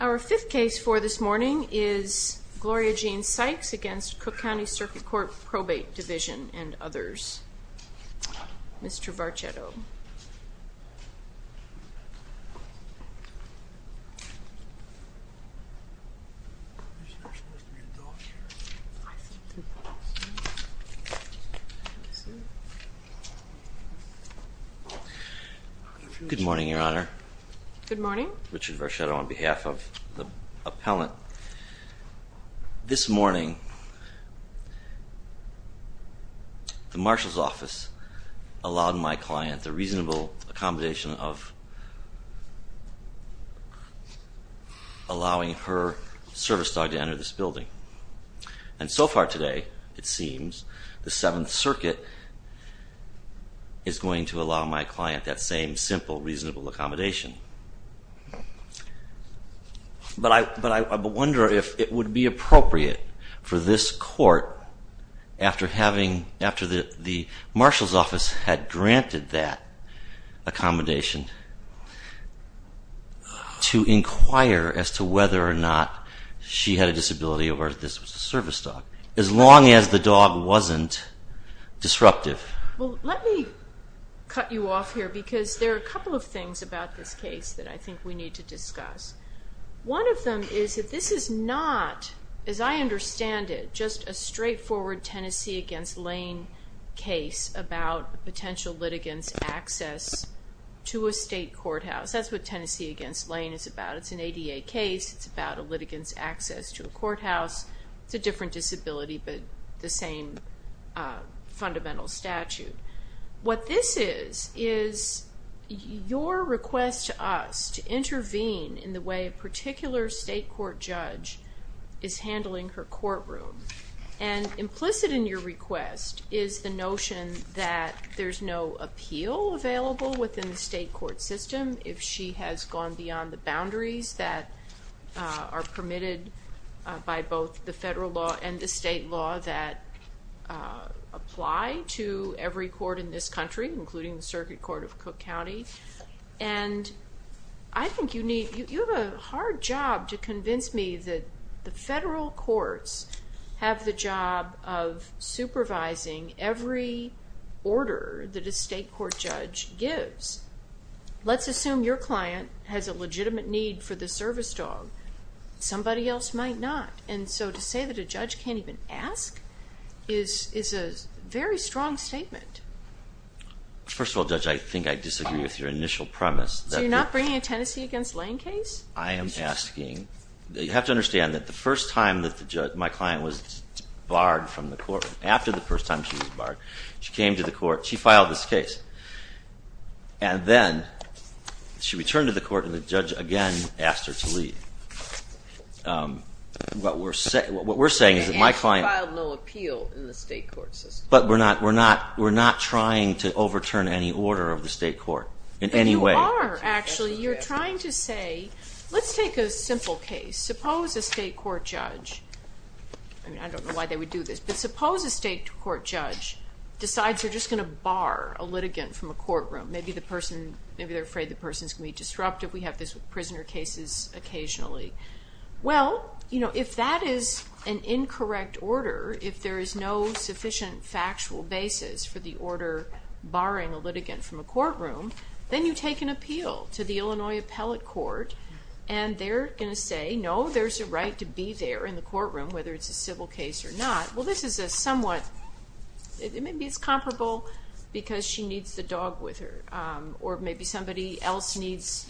Our fifth case for this morning is Gloria Jean Sykes v. Cook County Circuit Court Probate Division and others. Mr. Varchetto. Good morning, Your Honor. Good morning. I'm Richard Varchetto on behalf of the appellant. This morning, the marshal's office allowed my client the reasonable accommodation of allowing her service dog to enter this building. And so far today, it seems, the Seventh Circuit is going to allow my client that same simple reasonable accommodation. But I wonder if it would be appropriate for this court, after the marshal's office had granted that accommodation, to inquire as to whether or not she had a disability or if this was a service dog, as long as the dog wasn't disruptive. Well, let me cut you off here because there are a couple of things about this case that I think we need to discuss. One of them is that this is not, as I understand it, just a straightforward Tennessee v. Lane case about potential litigants' access to a state courthouse. That's what Tennessee v. Lane is about. It's an ADA case. It's about a litigant's access to a courthouse. It's a different disability, but the same fundamental statute. What this is, is your request to us to intervene in the way a particular state court judge is handling her courtroom. And implicit in your request is the notion that there's no appeal available within the state court system if she has gone beyond the boundaries that are permitted by both the federal law and the state law that apply to every court in this country, including the Circuit Court of Cook County. And I think you have a hard job to convince me that the federal courts have the job of Let's assume your client has a legitimate need for the service dog. Somebody else might not. And so to say that a judge can't even ask is a very strong statement. First of all, Judge, I think I disagree with your initial premise. So you're not bringing a Tennessee v. Lane case? I am asking, you have to understand that the first time that my client was barred from the court, after the first time she was barred, she came to the court, she filed this case. And then she returned to the court and the judge again asked her to leave. What we're saying is that my client- And she filed no appeal in the state court system. But we're not trying to overturn any order of the state court in any way. But you are, actually. You're trying to say, let's take a simple case. Suppose a state court judge, I don't know why they would do this, but suppose a state court judge decides they're just going to bar a litigant from a courtroom. Maybe they're afraid the person's going to be disruptive. We have this with prisoner cases occasionally. Well, if that is an incorrect order, if there is no sufficient factual basis for the order barring a litigant from a courtroom, then you take an appeal to the Illinois Appellate Court and they're going to say, no, there's a right to be there in the courtroom, whether it's a civil case or not. Well, this is a somewhat, maybe it's comparable because she needs the dog with her, or maybe somebody else needs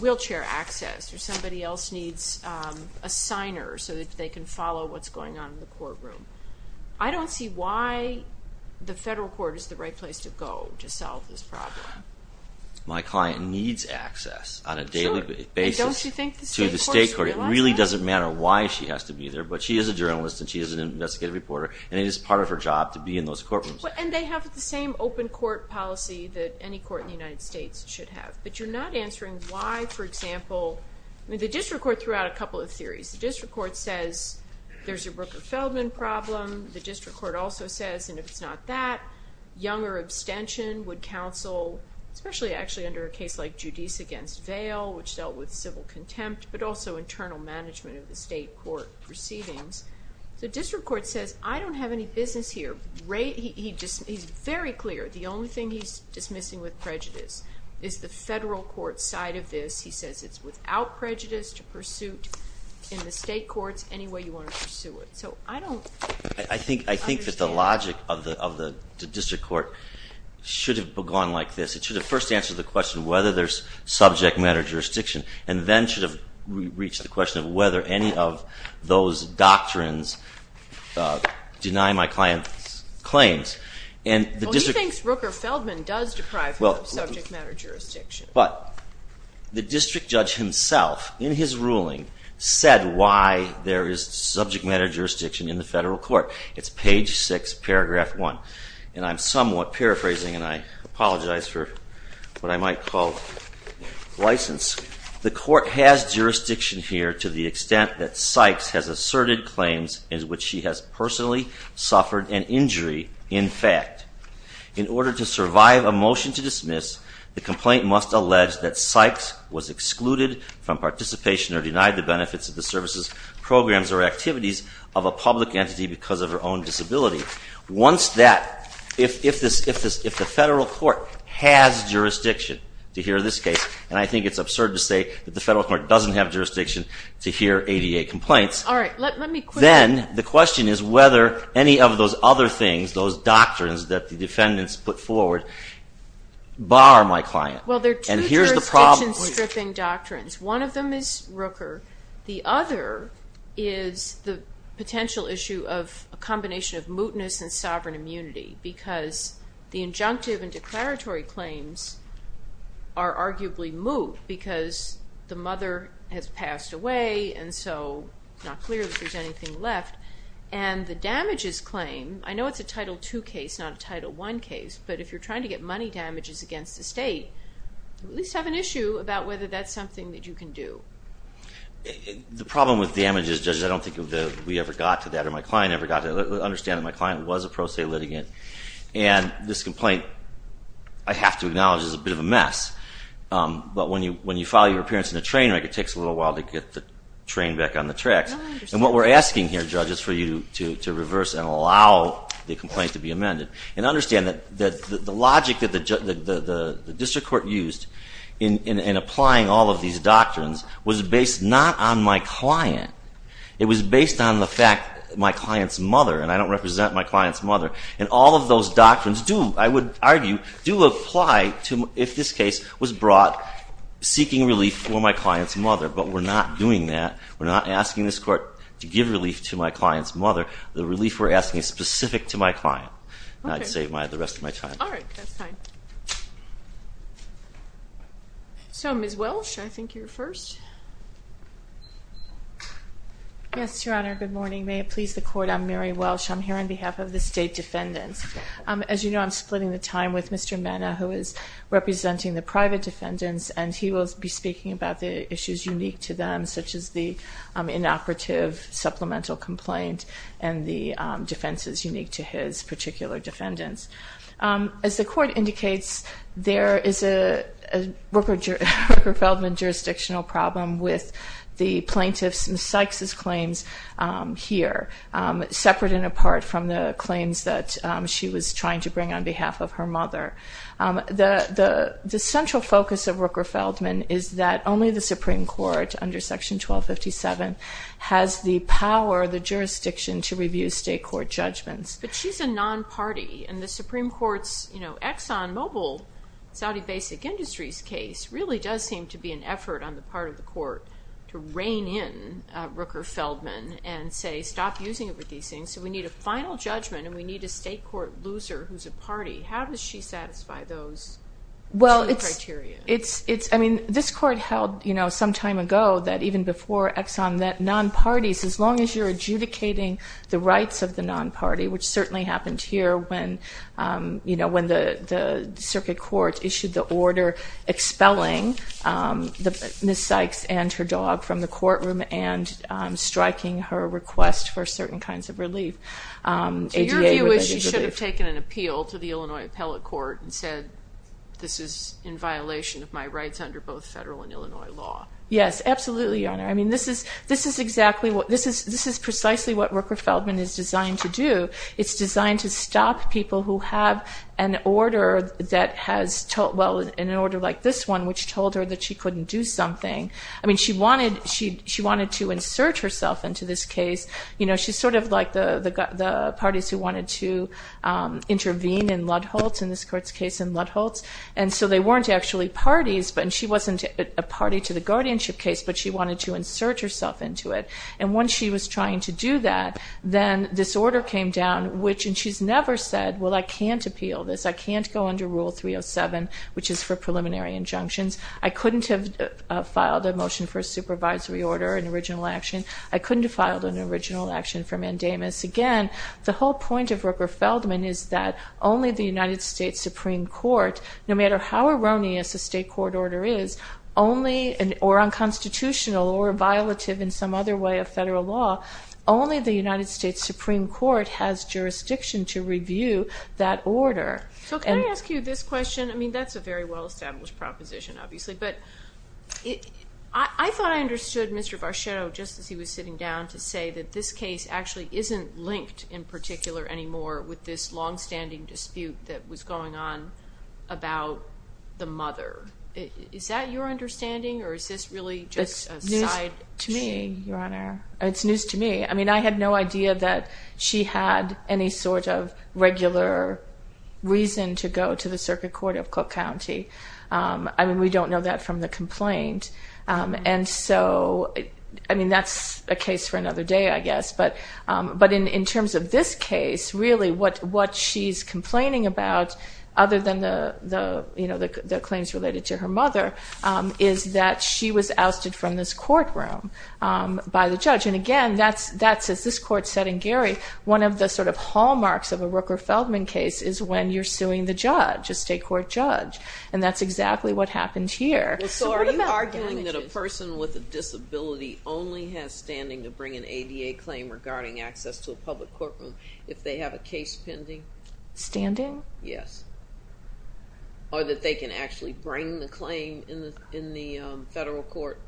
wheelchair access, or somebody else needs a signer so that they can follow what's going on in the courtroom. I don't see why the federal court is the right place to go to solve this problem. My client needs access on a daily basis to the state court. It really doesn't matter why she has to be there. But she is a journalist and she is an investigative reporter and it is part of her job to be in those courtrooms. And they have the same open court policy that any court in the United States should have. But you're not answering why, for example, the district court threw out a couple of theories. The district court says there's a Rooker-Feldman problem. The district court also says, and if it's not that, younger abstention would counsel, especially actually under a case like Giudice against Vail, which dealt with civil contempt, but also internal management of the state court proceedings. The district court says, I don't have any business here. He's very clear. The only thing he's dismissing with prejudice is the federal court side of this. He says it's without prejudice to pursuit in the state courts any way you want to pursue it. So I don't understand. I think that the logic of the district court should have gone like this. It should have first answered the question whether there's subject matter jurisdiction, and then should have reached the question of whether any of those doctrines deny my client's claims. Well, he thinks Rooker-Feldman does deprive him of subject matter jurisdiction. But the district judge himself, in his ruling, said why there is subject matter jurisdiction in the federal court. It's page 6, paragraph 1. And I'm somewhat paraphrasing, and I apologize for what I might call license. The court has jurisdiction here to the extent that Sykes has asserted claims in which she has personally suffered an injury, in fact. In order to survive a motion to dismiss, the complaint must allege that Sykes was excluded from participation or denied the benefits of the services, programs, or activities of a public entity because of her own disability. If the federal court has jurisdiction to hear this case, and I think it's absurd to say that the federal court doesn't have jurisdiction to hear ADA complaints, then the question is whether any of those other things, those doctrines that the defendants put forward, bar my client. Well, there are two jurisdiction-stripping doctrines. One of them is Rooker. The other is the potential issue of a combination of mootness and sovereign immunity because the injunctive and declaratory claims are arguably moot because the mother has passed away and so it's not clear if there's anything left. And the damages claim, I know it's a Title II case, not a Title I case, but if you're trying to get money damages against the state, you at least have an issue about whether that's something that you can do. The problem with damages, judges, I don't think we ever got to that or my client ever got to that. I understand that my client was a pro se litigant, and this complaint, I have to acknowledge, is a bit of a mess. But when you file your appearance in a train wreck, it takes a little while to get the train back on the tracks. And what we're asking here, judges, for you to reverse and allow the complaint to be amended and understand that the logic that the district court used in applying all of these doctrines was based not on my client. It was based on the fact that my client's mother, and I don't represent my client's mother, and all of those doctrines do, I would argue, do apply if this case was brought seeking relief for my client's mother. But we're not doing that. We're not asking this court to give relief to my client's mother. The relief we're asking is specific to my client. I'd save the rest of my time. All right. That's fine. So, Ms. Welsh, I think you're first. Yes, Your Honor. Good morning. May it please the Court, I'm Mary Welsh. I'm here on behalf of the state defendants. As you know, I'm splitting the time with Mr. Mena, who is representing the private defendants, and he will be speaking about the issues unique to them, such as the inoperative supplemental complaint and the defenses unique to his particular defendants. As the Court indicates, there is a Rooker-Feldman jurisdictional problem with the plaintiff's, Ms. Sykes' claims here, separate and apart from the claims that she was trying to bring on behalf of her mother. The central focus of Rooker-Feldman is that only the Supreme Court, under Section 1257, has the power, the jurisdiction, to review state court judgments. But she's a non-party, and the Supreme Court's ExxonMobil, Saudi Basic Industries case, really does seem to be an effort on the part of the Court to rein in Rooker-Feldman and say, stop using it with these things. So we need a final judgment, and we need a state court loser who's a party. How does she satisfy those two criteria? Well, it's, I mean, this Court held, you know, some time ago, that even before Exxon, that non-parties, as long as you're adjudicating the rights of the non-party, which certainly happened here when, you know, when the Circuit Court issued the order expelling Ms. Sykes and her dog from the courtroom and striking her request for certain kinds of relief. So your view is she should have taken an appeal to the Illinois Appellate Court and said, this is in violation of my rights under both federal and Illinois law. Yes, absolutely, Your Honor. I mean, this is precisely what Rooker-Feldman is designed to do. It's designed to stop people who have an order that has, well, an order like this one, which told her that she couldn't do something. I mean, she wanted to insert herself into this case. You know, she's sort of like the parties who wanted to intervene in Ludd-Holtz, in this Court's case in Ludd-Holtz. And so they weren't actually parties, and she wasn't a party to the guardianship case, but she wanted to insert herself into it. And once she was trying to do that, then this order came down, which, and she's never said, well, I can't appeal this, I can't go under Rule 307, which is for preliminary injunctions. I couldn't have filed a motion for a supervisory order, an original action. I couldn't have filed an original action for mandamus. Again, the whole point of Rooker-Feldman is that only the United States Supreme Court, no matter how erroneous a state court order is, or unconstitutional or violative in some other way of federal law, only the United States Supreme Court has jurisdiction to review that order. So can I ask you this question? I mean, that's a very well-established proposition, obviously. But I thought I understood Mr. Barchetto, just as he was sitting down, to say that this case actually isn't linked in particular anymore with this longstanding dispute that was going on about the mother. Is that your understanding, or is this really just a side issue? It's news to me, Your Honor. It's news to me. I mean, I had no idea that she had any sort of regular reason to go to the circuit court of Cook County. I mean, we don't know that from the complaint. And so, I mean, that's a case for another day, I guess. But in terms of this case, really what she's complaining about, other than the claims related to her mother, is that she was ousted from this courtroom by the judge. And again, that's, as this court said in Gary, one of the sort of hallmarks of a Rooker-Feldman case is when you're suing the judge, a state court judge. And that's exactly what happened here. So are you arguing that a person with a disability only has standing to bring an ADA claim regarding access to a public courtroom if they have a case pending? Standing? Yes. Or that they can actually bring the claim in the federal court?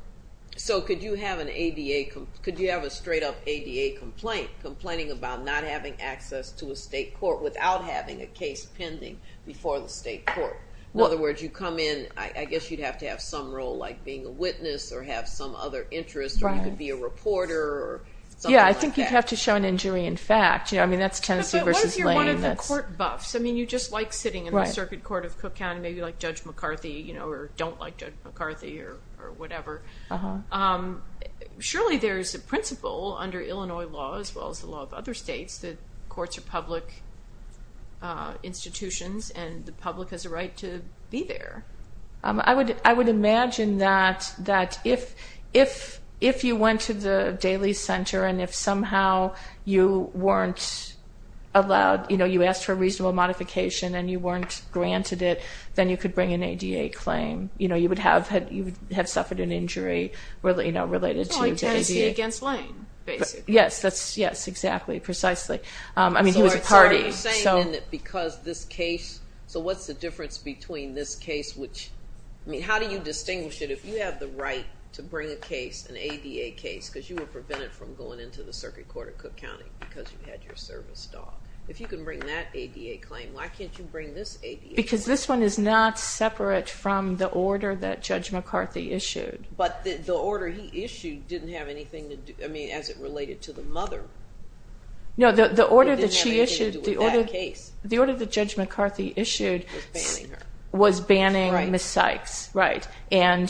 So could you have a straight-up ADA complaint complaining about not having access to a state court without having a case pending before the state court? In other words, you come in, I guess you'd have to have some role like being a witness or have some other interest, or you could be a reporter or something like that. Yeah, I think you'd have to show an injury in fact. I mean, that's Tennessee v. Lane. But what if you're one of the court buffs? I mean, you just like sitting in the circuit court of Cook County, maybe like Judge McCarthy, or don't like Judge McCarthy or whatever. Surely there's a principle under Illinois law, as well as the law of other states, that courts are public institutions and the public has a right to be there. I would imagine that if you went to the Daly Center and if somehow you weren't allowed, you know, you asked for a reasonable modification and you weren't granted it, then you could bring an ADA claim. You know, you would have suffered an injury related to the ADA. Well, like Tennessee v. Lane, basically. Yes, exactly, precisely. I mean, he was a party. So what's the difference between this case, which, I mean, how do you distinguish it if you have the right to bring a case, an ADA case, because you were prevented from going into the circuit court of Cook County because you had your service dog. If you can bring that ADA claim, why can't you bring this ADA claim? Because this one is not separate from the order that Judge McCarthy issued. But the order he issued didn't have anything to do, I mean, as it related to the mother. No, the order that she issued, the order that Judge McCarthy issued was banning Ms. Sykes, right, and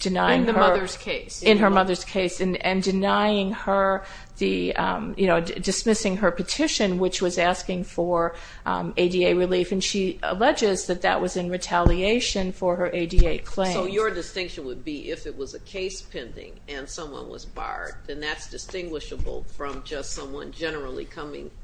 denying her. In her mother's case. In her mother's case, and denying her the, you know, dismissing her petition, which was asking for ADA relief, and she alleges that that was in retaliation for her ADA claim. So your distinction would be if it was a case pending and someone was barred, then that's distinguishable from just someone generally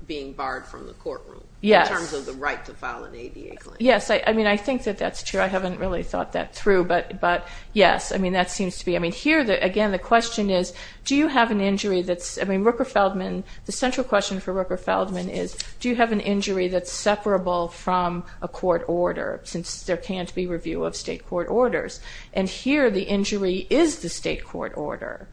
being barred from the courtroom. Yes. In terms of the right to file an ADA claim. Yes, I mean, I think that that's true. I haven't really thought that through. But, yes, I mean, that seems to be. I mean, here, again, the question is, do you have an injury that's, I mean, Rooker-Feldman, the central question for Rooker-Feldman is, do you have an injury that's separable from a court order, since there can't be review of state court orders? And here the injury is the state court order.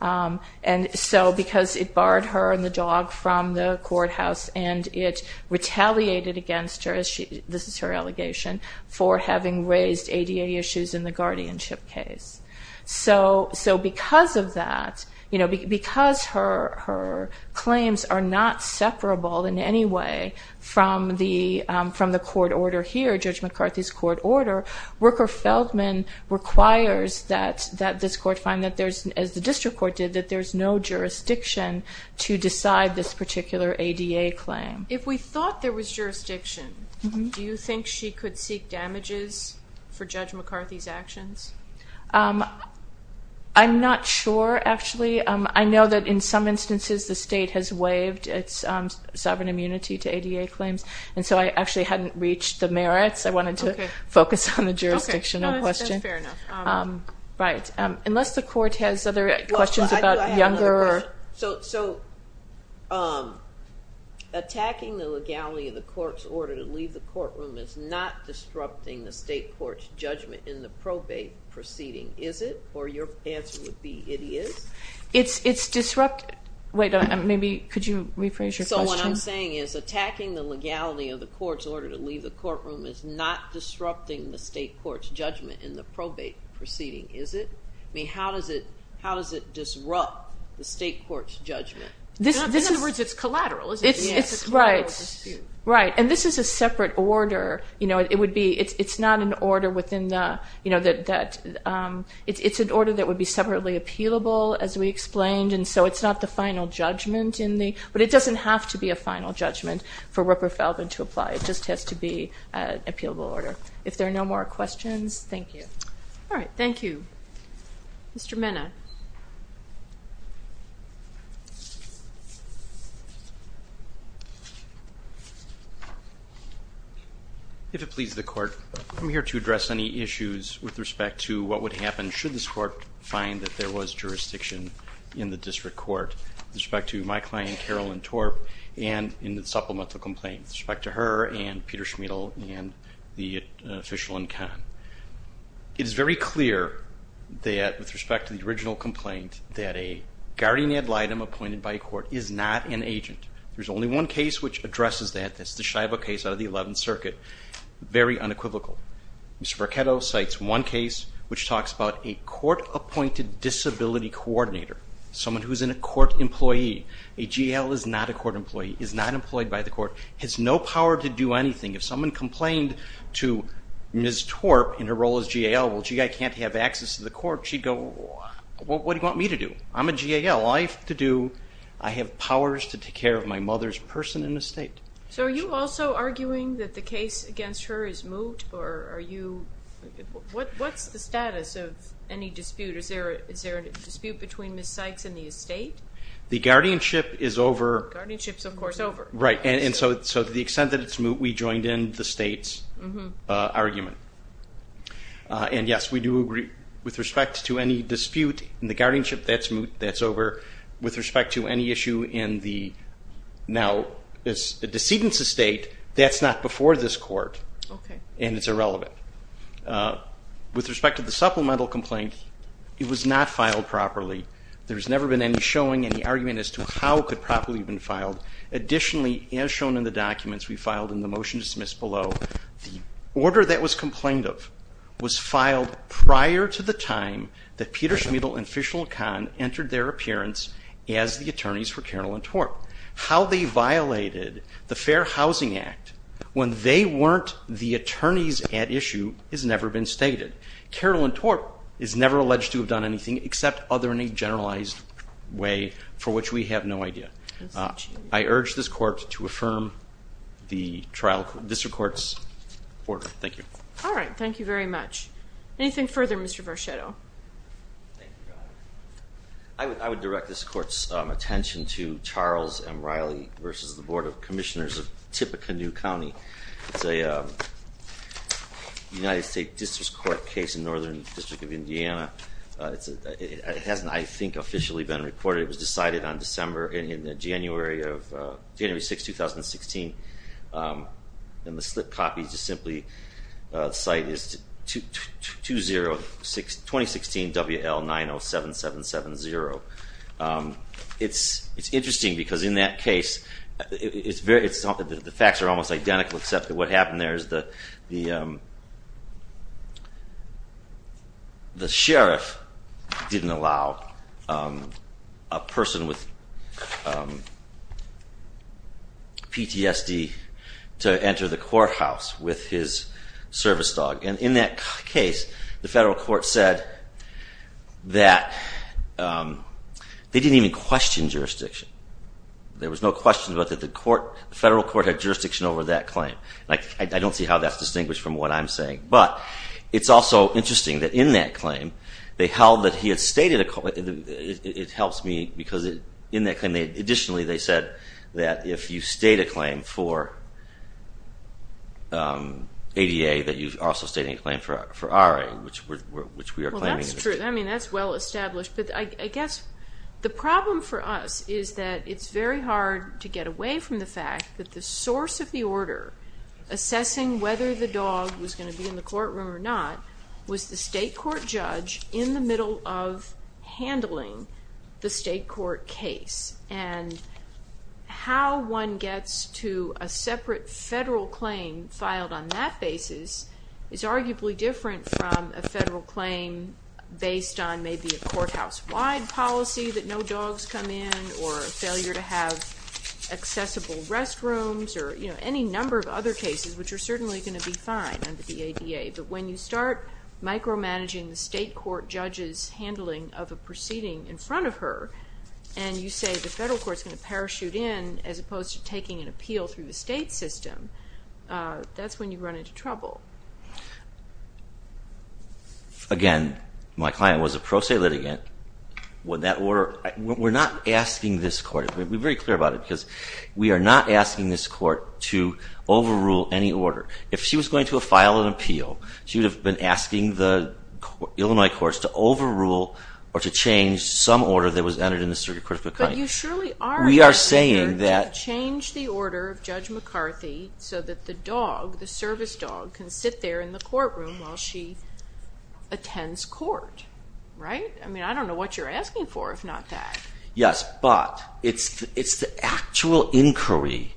And so because it barred her and the dog from the courthouse and it retaliated against her, this is her allegation, for having raised ADA issues in the guardianship case. So because of that, you know, because her claims are not separable in any way from the court order here, Judge McCarthy's court order, Rooker-Feldman requires that this court find that there's, as the district court did, that there's no jurisdiction to decide this particular ADA claim. If we thought there was jurisdiction, do you think she could seek damages for Judge McCarthy's actions? I'm not sure, actually. I know that in some instances the state has waived its sovereign immunity to ADA claims, and so I actually hadn't reached the merits. I wanted to focus on the jurisdictional question. Okay, no, that's fair enough. Right. Unless the court has other questions about younger or – So attacking the legality of the court's order to leave the courtroom is not disrupting the state court's judgment in the probate proceeding, is it? Or your answer would be it is? It's disrupt – wait, maybe could you rephrase your question? So what I'm saying is attacking the legality of the court's order to leave the courtroom is not disrupting the state court's judgment in the probate proceeding, is it? I mean, how does it disrupt the state court's judgment? In other words, it's collateral, isn't it? It's collateral dispute. Right, and this is a separate order. It would be – it's not an order within the – it's an order that would be separately appealable, as we explained, and so it's not the final judgment in the – but it doesn't have to be a final judgment for Rupert Feldman to apply. It just has to be an appealable order. If there are no more questions, thank you. All right, thank you. Mr. Minna. If it pleases the court, I'm here to address any issues with respect to what would happen should this court find that there was jurisdiction in the district court with respect to my client, Carolyn Torp, and in the supplemental complaint with respect to her and Peter Schmidl and the official in Cannes. It is very clear that with respect to the original complaint that a guardian ad litem appointed by a court is not an agent. There's only one case which addresses that. That's the Scheibe case out of the 11th Circuit. Very unequivocal. Mr. Marchetto cites one case which talks about a court-appointed disability coordinator, someone who's a court employee. A GAL is not a court employee, is not employed by the court, has no power to do anything. If someone complained to Ms. Torp in her role as GAL, well, gee, I can't have access to the court. She'd go, what do you want me to do? I'm a GAL. All I have to do, I have powers to take care of my mother's person in the state. So are you also arguing that the case against her is moot? What's the status of any dispute? Is there a dispute between Ms. Sykes and the estate? The guardianship is over. The guardianship is, of course, over. Right, and so to the extent that it's moot, we joined in the state's argument. And, yes, we do agree with respect to any dispute in the guardianship, that's moot, that's over. With respect to any issue in the now decedent's estate, that's not before this court, and it's irrelevant. With respect to the supplemental complaint, it was not filed properly. There's never been any showing, any argument as to how it could properly have been filed. Additionally, as shown in the documents we filed in the motion dismissed below, the order that was complained of was filed prior to the time that Peter Schmidl and Fishel Kahn entered their appearance as the attorneys for Carroll and Torp. How they violated the Fair Housing Act when they weren't the attorneys at issue has never been stated. Carroll and Torp is never alleged to have done anything except other in a generalized way for which we have no idea. I urge this court to affirm the district court's order. Thank you. All right. Thank you very much. Anything further, Mr. Varchetto? I would direct this court's attention to Charles and Riley v. the Board of Commissioners of Tippecanoe County. It's a United States District Court case in Northern District of Indiana. It hasn't, I think, officially been reported. It was decided on January 6, 2016, and the slip copy to simply cite is 2016 WL 907770. It's interesting because in that case, the facts are almost identical except that what happened there is the sheriff didn't allow a person with PTSD to enter the courthouse with his service dog. In that case, the federal court said that they didn't even question jurisdiction. There was no question that the federal court had jurisdiction over that claim. I don't see how that's distinguished from what I'm saying. But it's also interesting that in that claim, they held that he had stated a claim. It helps me because in that claim, additionally, they said that if you state a claim for ADA, that you've also stated a claim for RA, which we are claiming. Well, that's true. I mean, that's well established. But I guess the problem for us is that it's very hard to get away from the fact that the source of the order assessing whether the dog was going to be in the courtroom or not was the state court judge in the middle of handling the state court case. And how one gets to a separate federal claim filed on that basis is arguably different from a federal claim based on maybe a courthouse-wide policy that no dogs come in or failure to have accessible restrooms or any number of other cases, which are certainly going to be fine under the ADA. But when you start micromanaging the state court judge's handling of a proceeding in front of her and you say the federal court's going to parachute in as opposed to taking an appeal through the state system, that's when you run into trouble. Again, my client was a pro se litigant. We're not asking this court. We're very clear about it because we are not asking this court to overrule any order. If she was going to file an appeal, she would have been asking the Illinois courts to overrule or to change some order that was entered in the circuit court. But you surely are asking her to change the order of Judge McCarthy so that the dog, the service dog, can sit there in the courtroom while she attends court, right? I mean, I don't know what you're asking for if not that. Yes, but it's the actual inquiry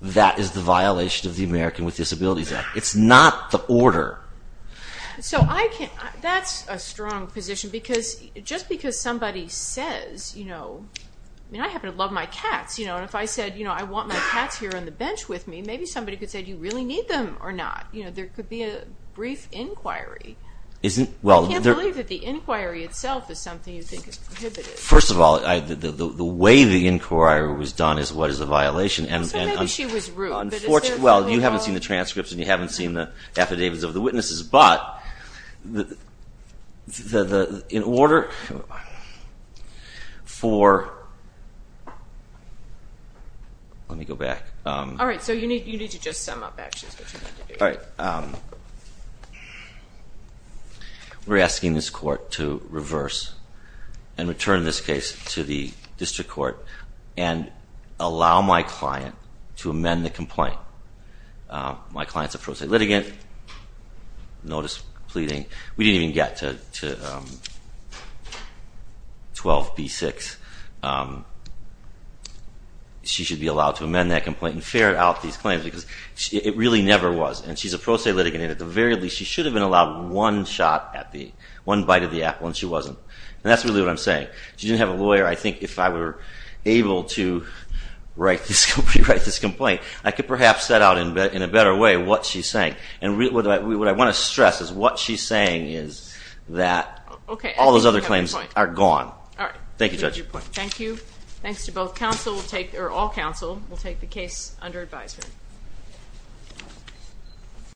that is the violation of the American with Disabilities Act. It's not the order. That's a strong position because just because somebody says, you know, I happen to love my cats, and if I said, you know, I want my cats here on the bench with me, maybe somebody could say, do you really need them or not? There could be a brief inquiry. I can't believe that the inquiry itself is something you think is prohibited. First of all, the way the inquiry was done is what is a violation. So maybe she was rude. Well, you haven't seen the transcripts and you haven't seen the affidavits of the witnesses, but in order for – let me go back. All right, so you need to just sum up actually what you need to do. All right. We're asking this court to reverse and return this case to the district court and allow my client to amend the complaint. My client's a pro se litigant, notice pleading. We didn't even get to 12B6. She should be allowed to amend that complaint and ferret out these claims because it really never was. And she's a pro se litigant and at the very least she should have been allowed one shot at the – one bite of the apple and she wasn't. And that's really what I'm saying. She didn't have a lawyer. I think if I were able to rewrite this complaint, I could perhaps set out in a better way what she's saying. And what I want to stress is what she's saying is that all those other claims are gone. Thank you, Judge. Thank you. Thank you. Thanks to both counsel. We'll take – or all counsel will take the case under advisement.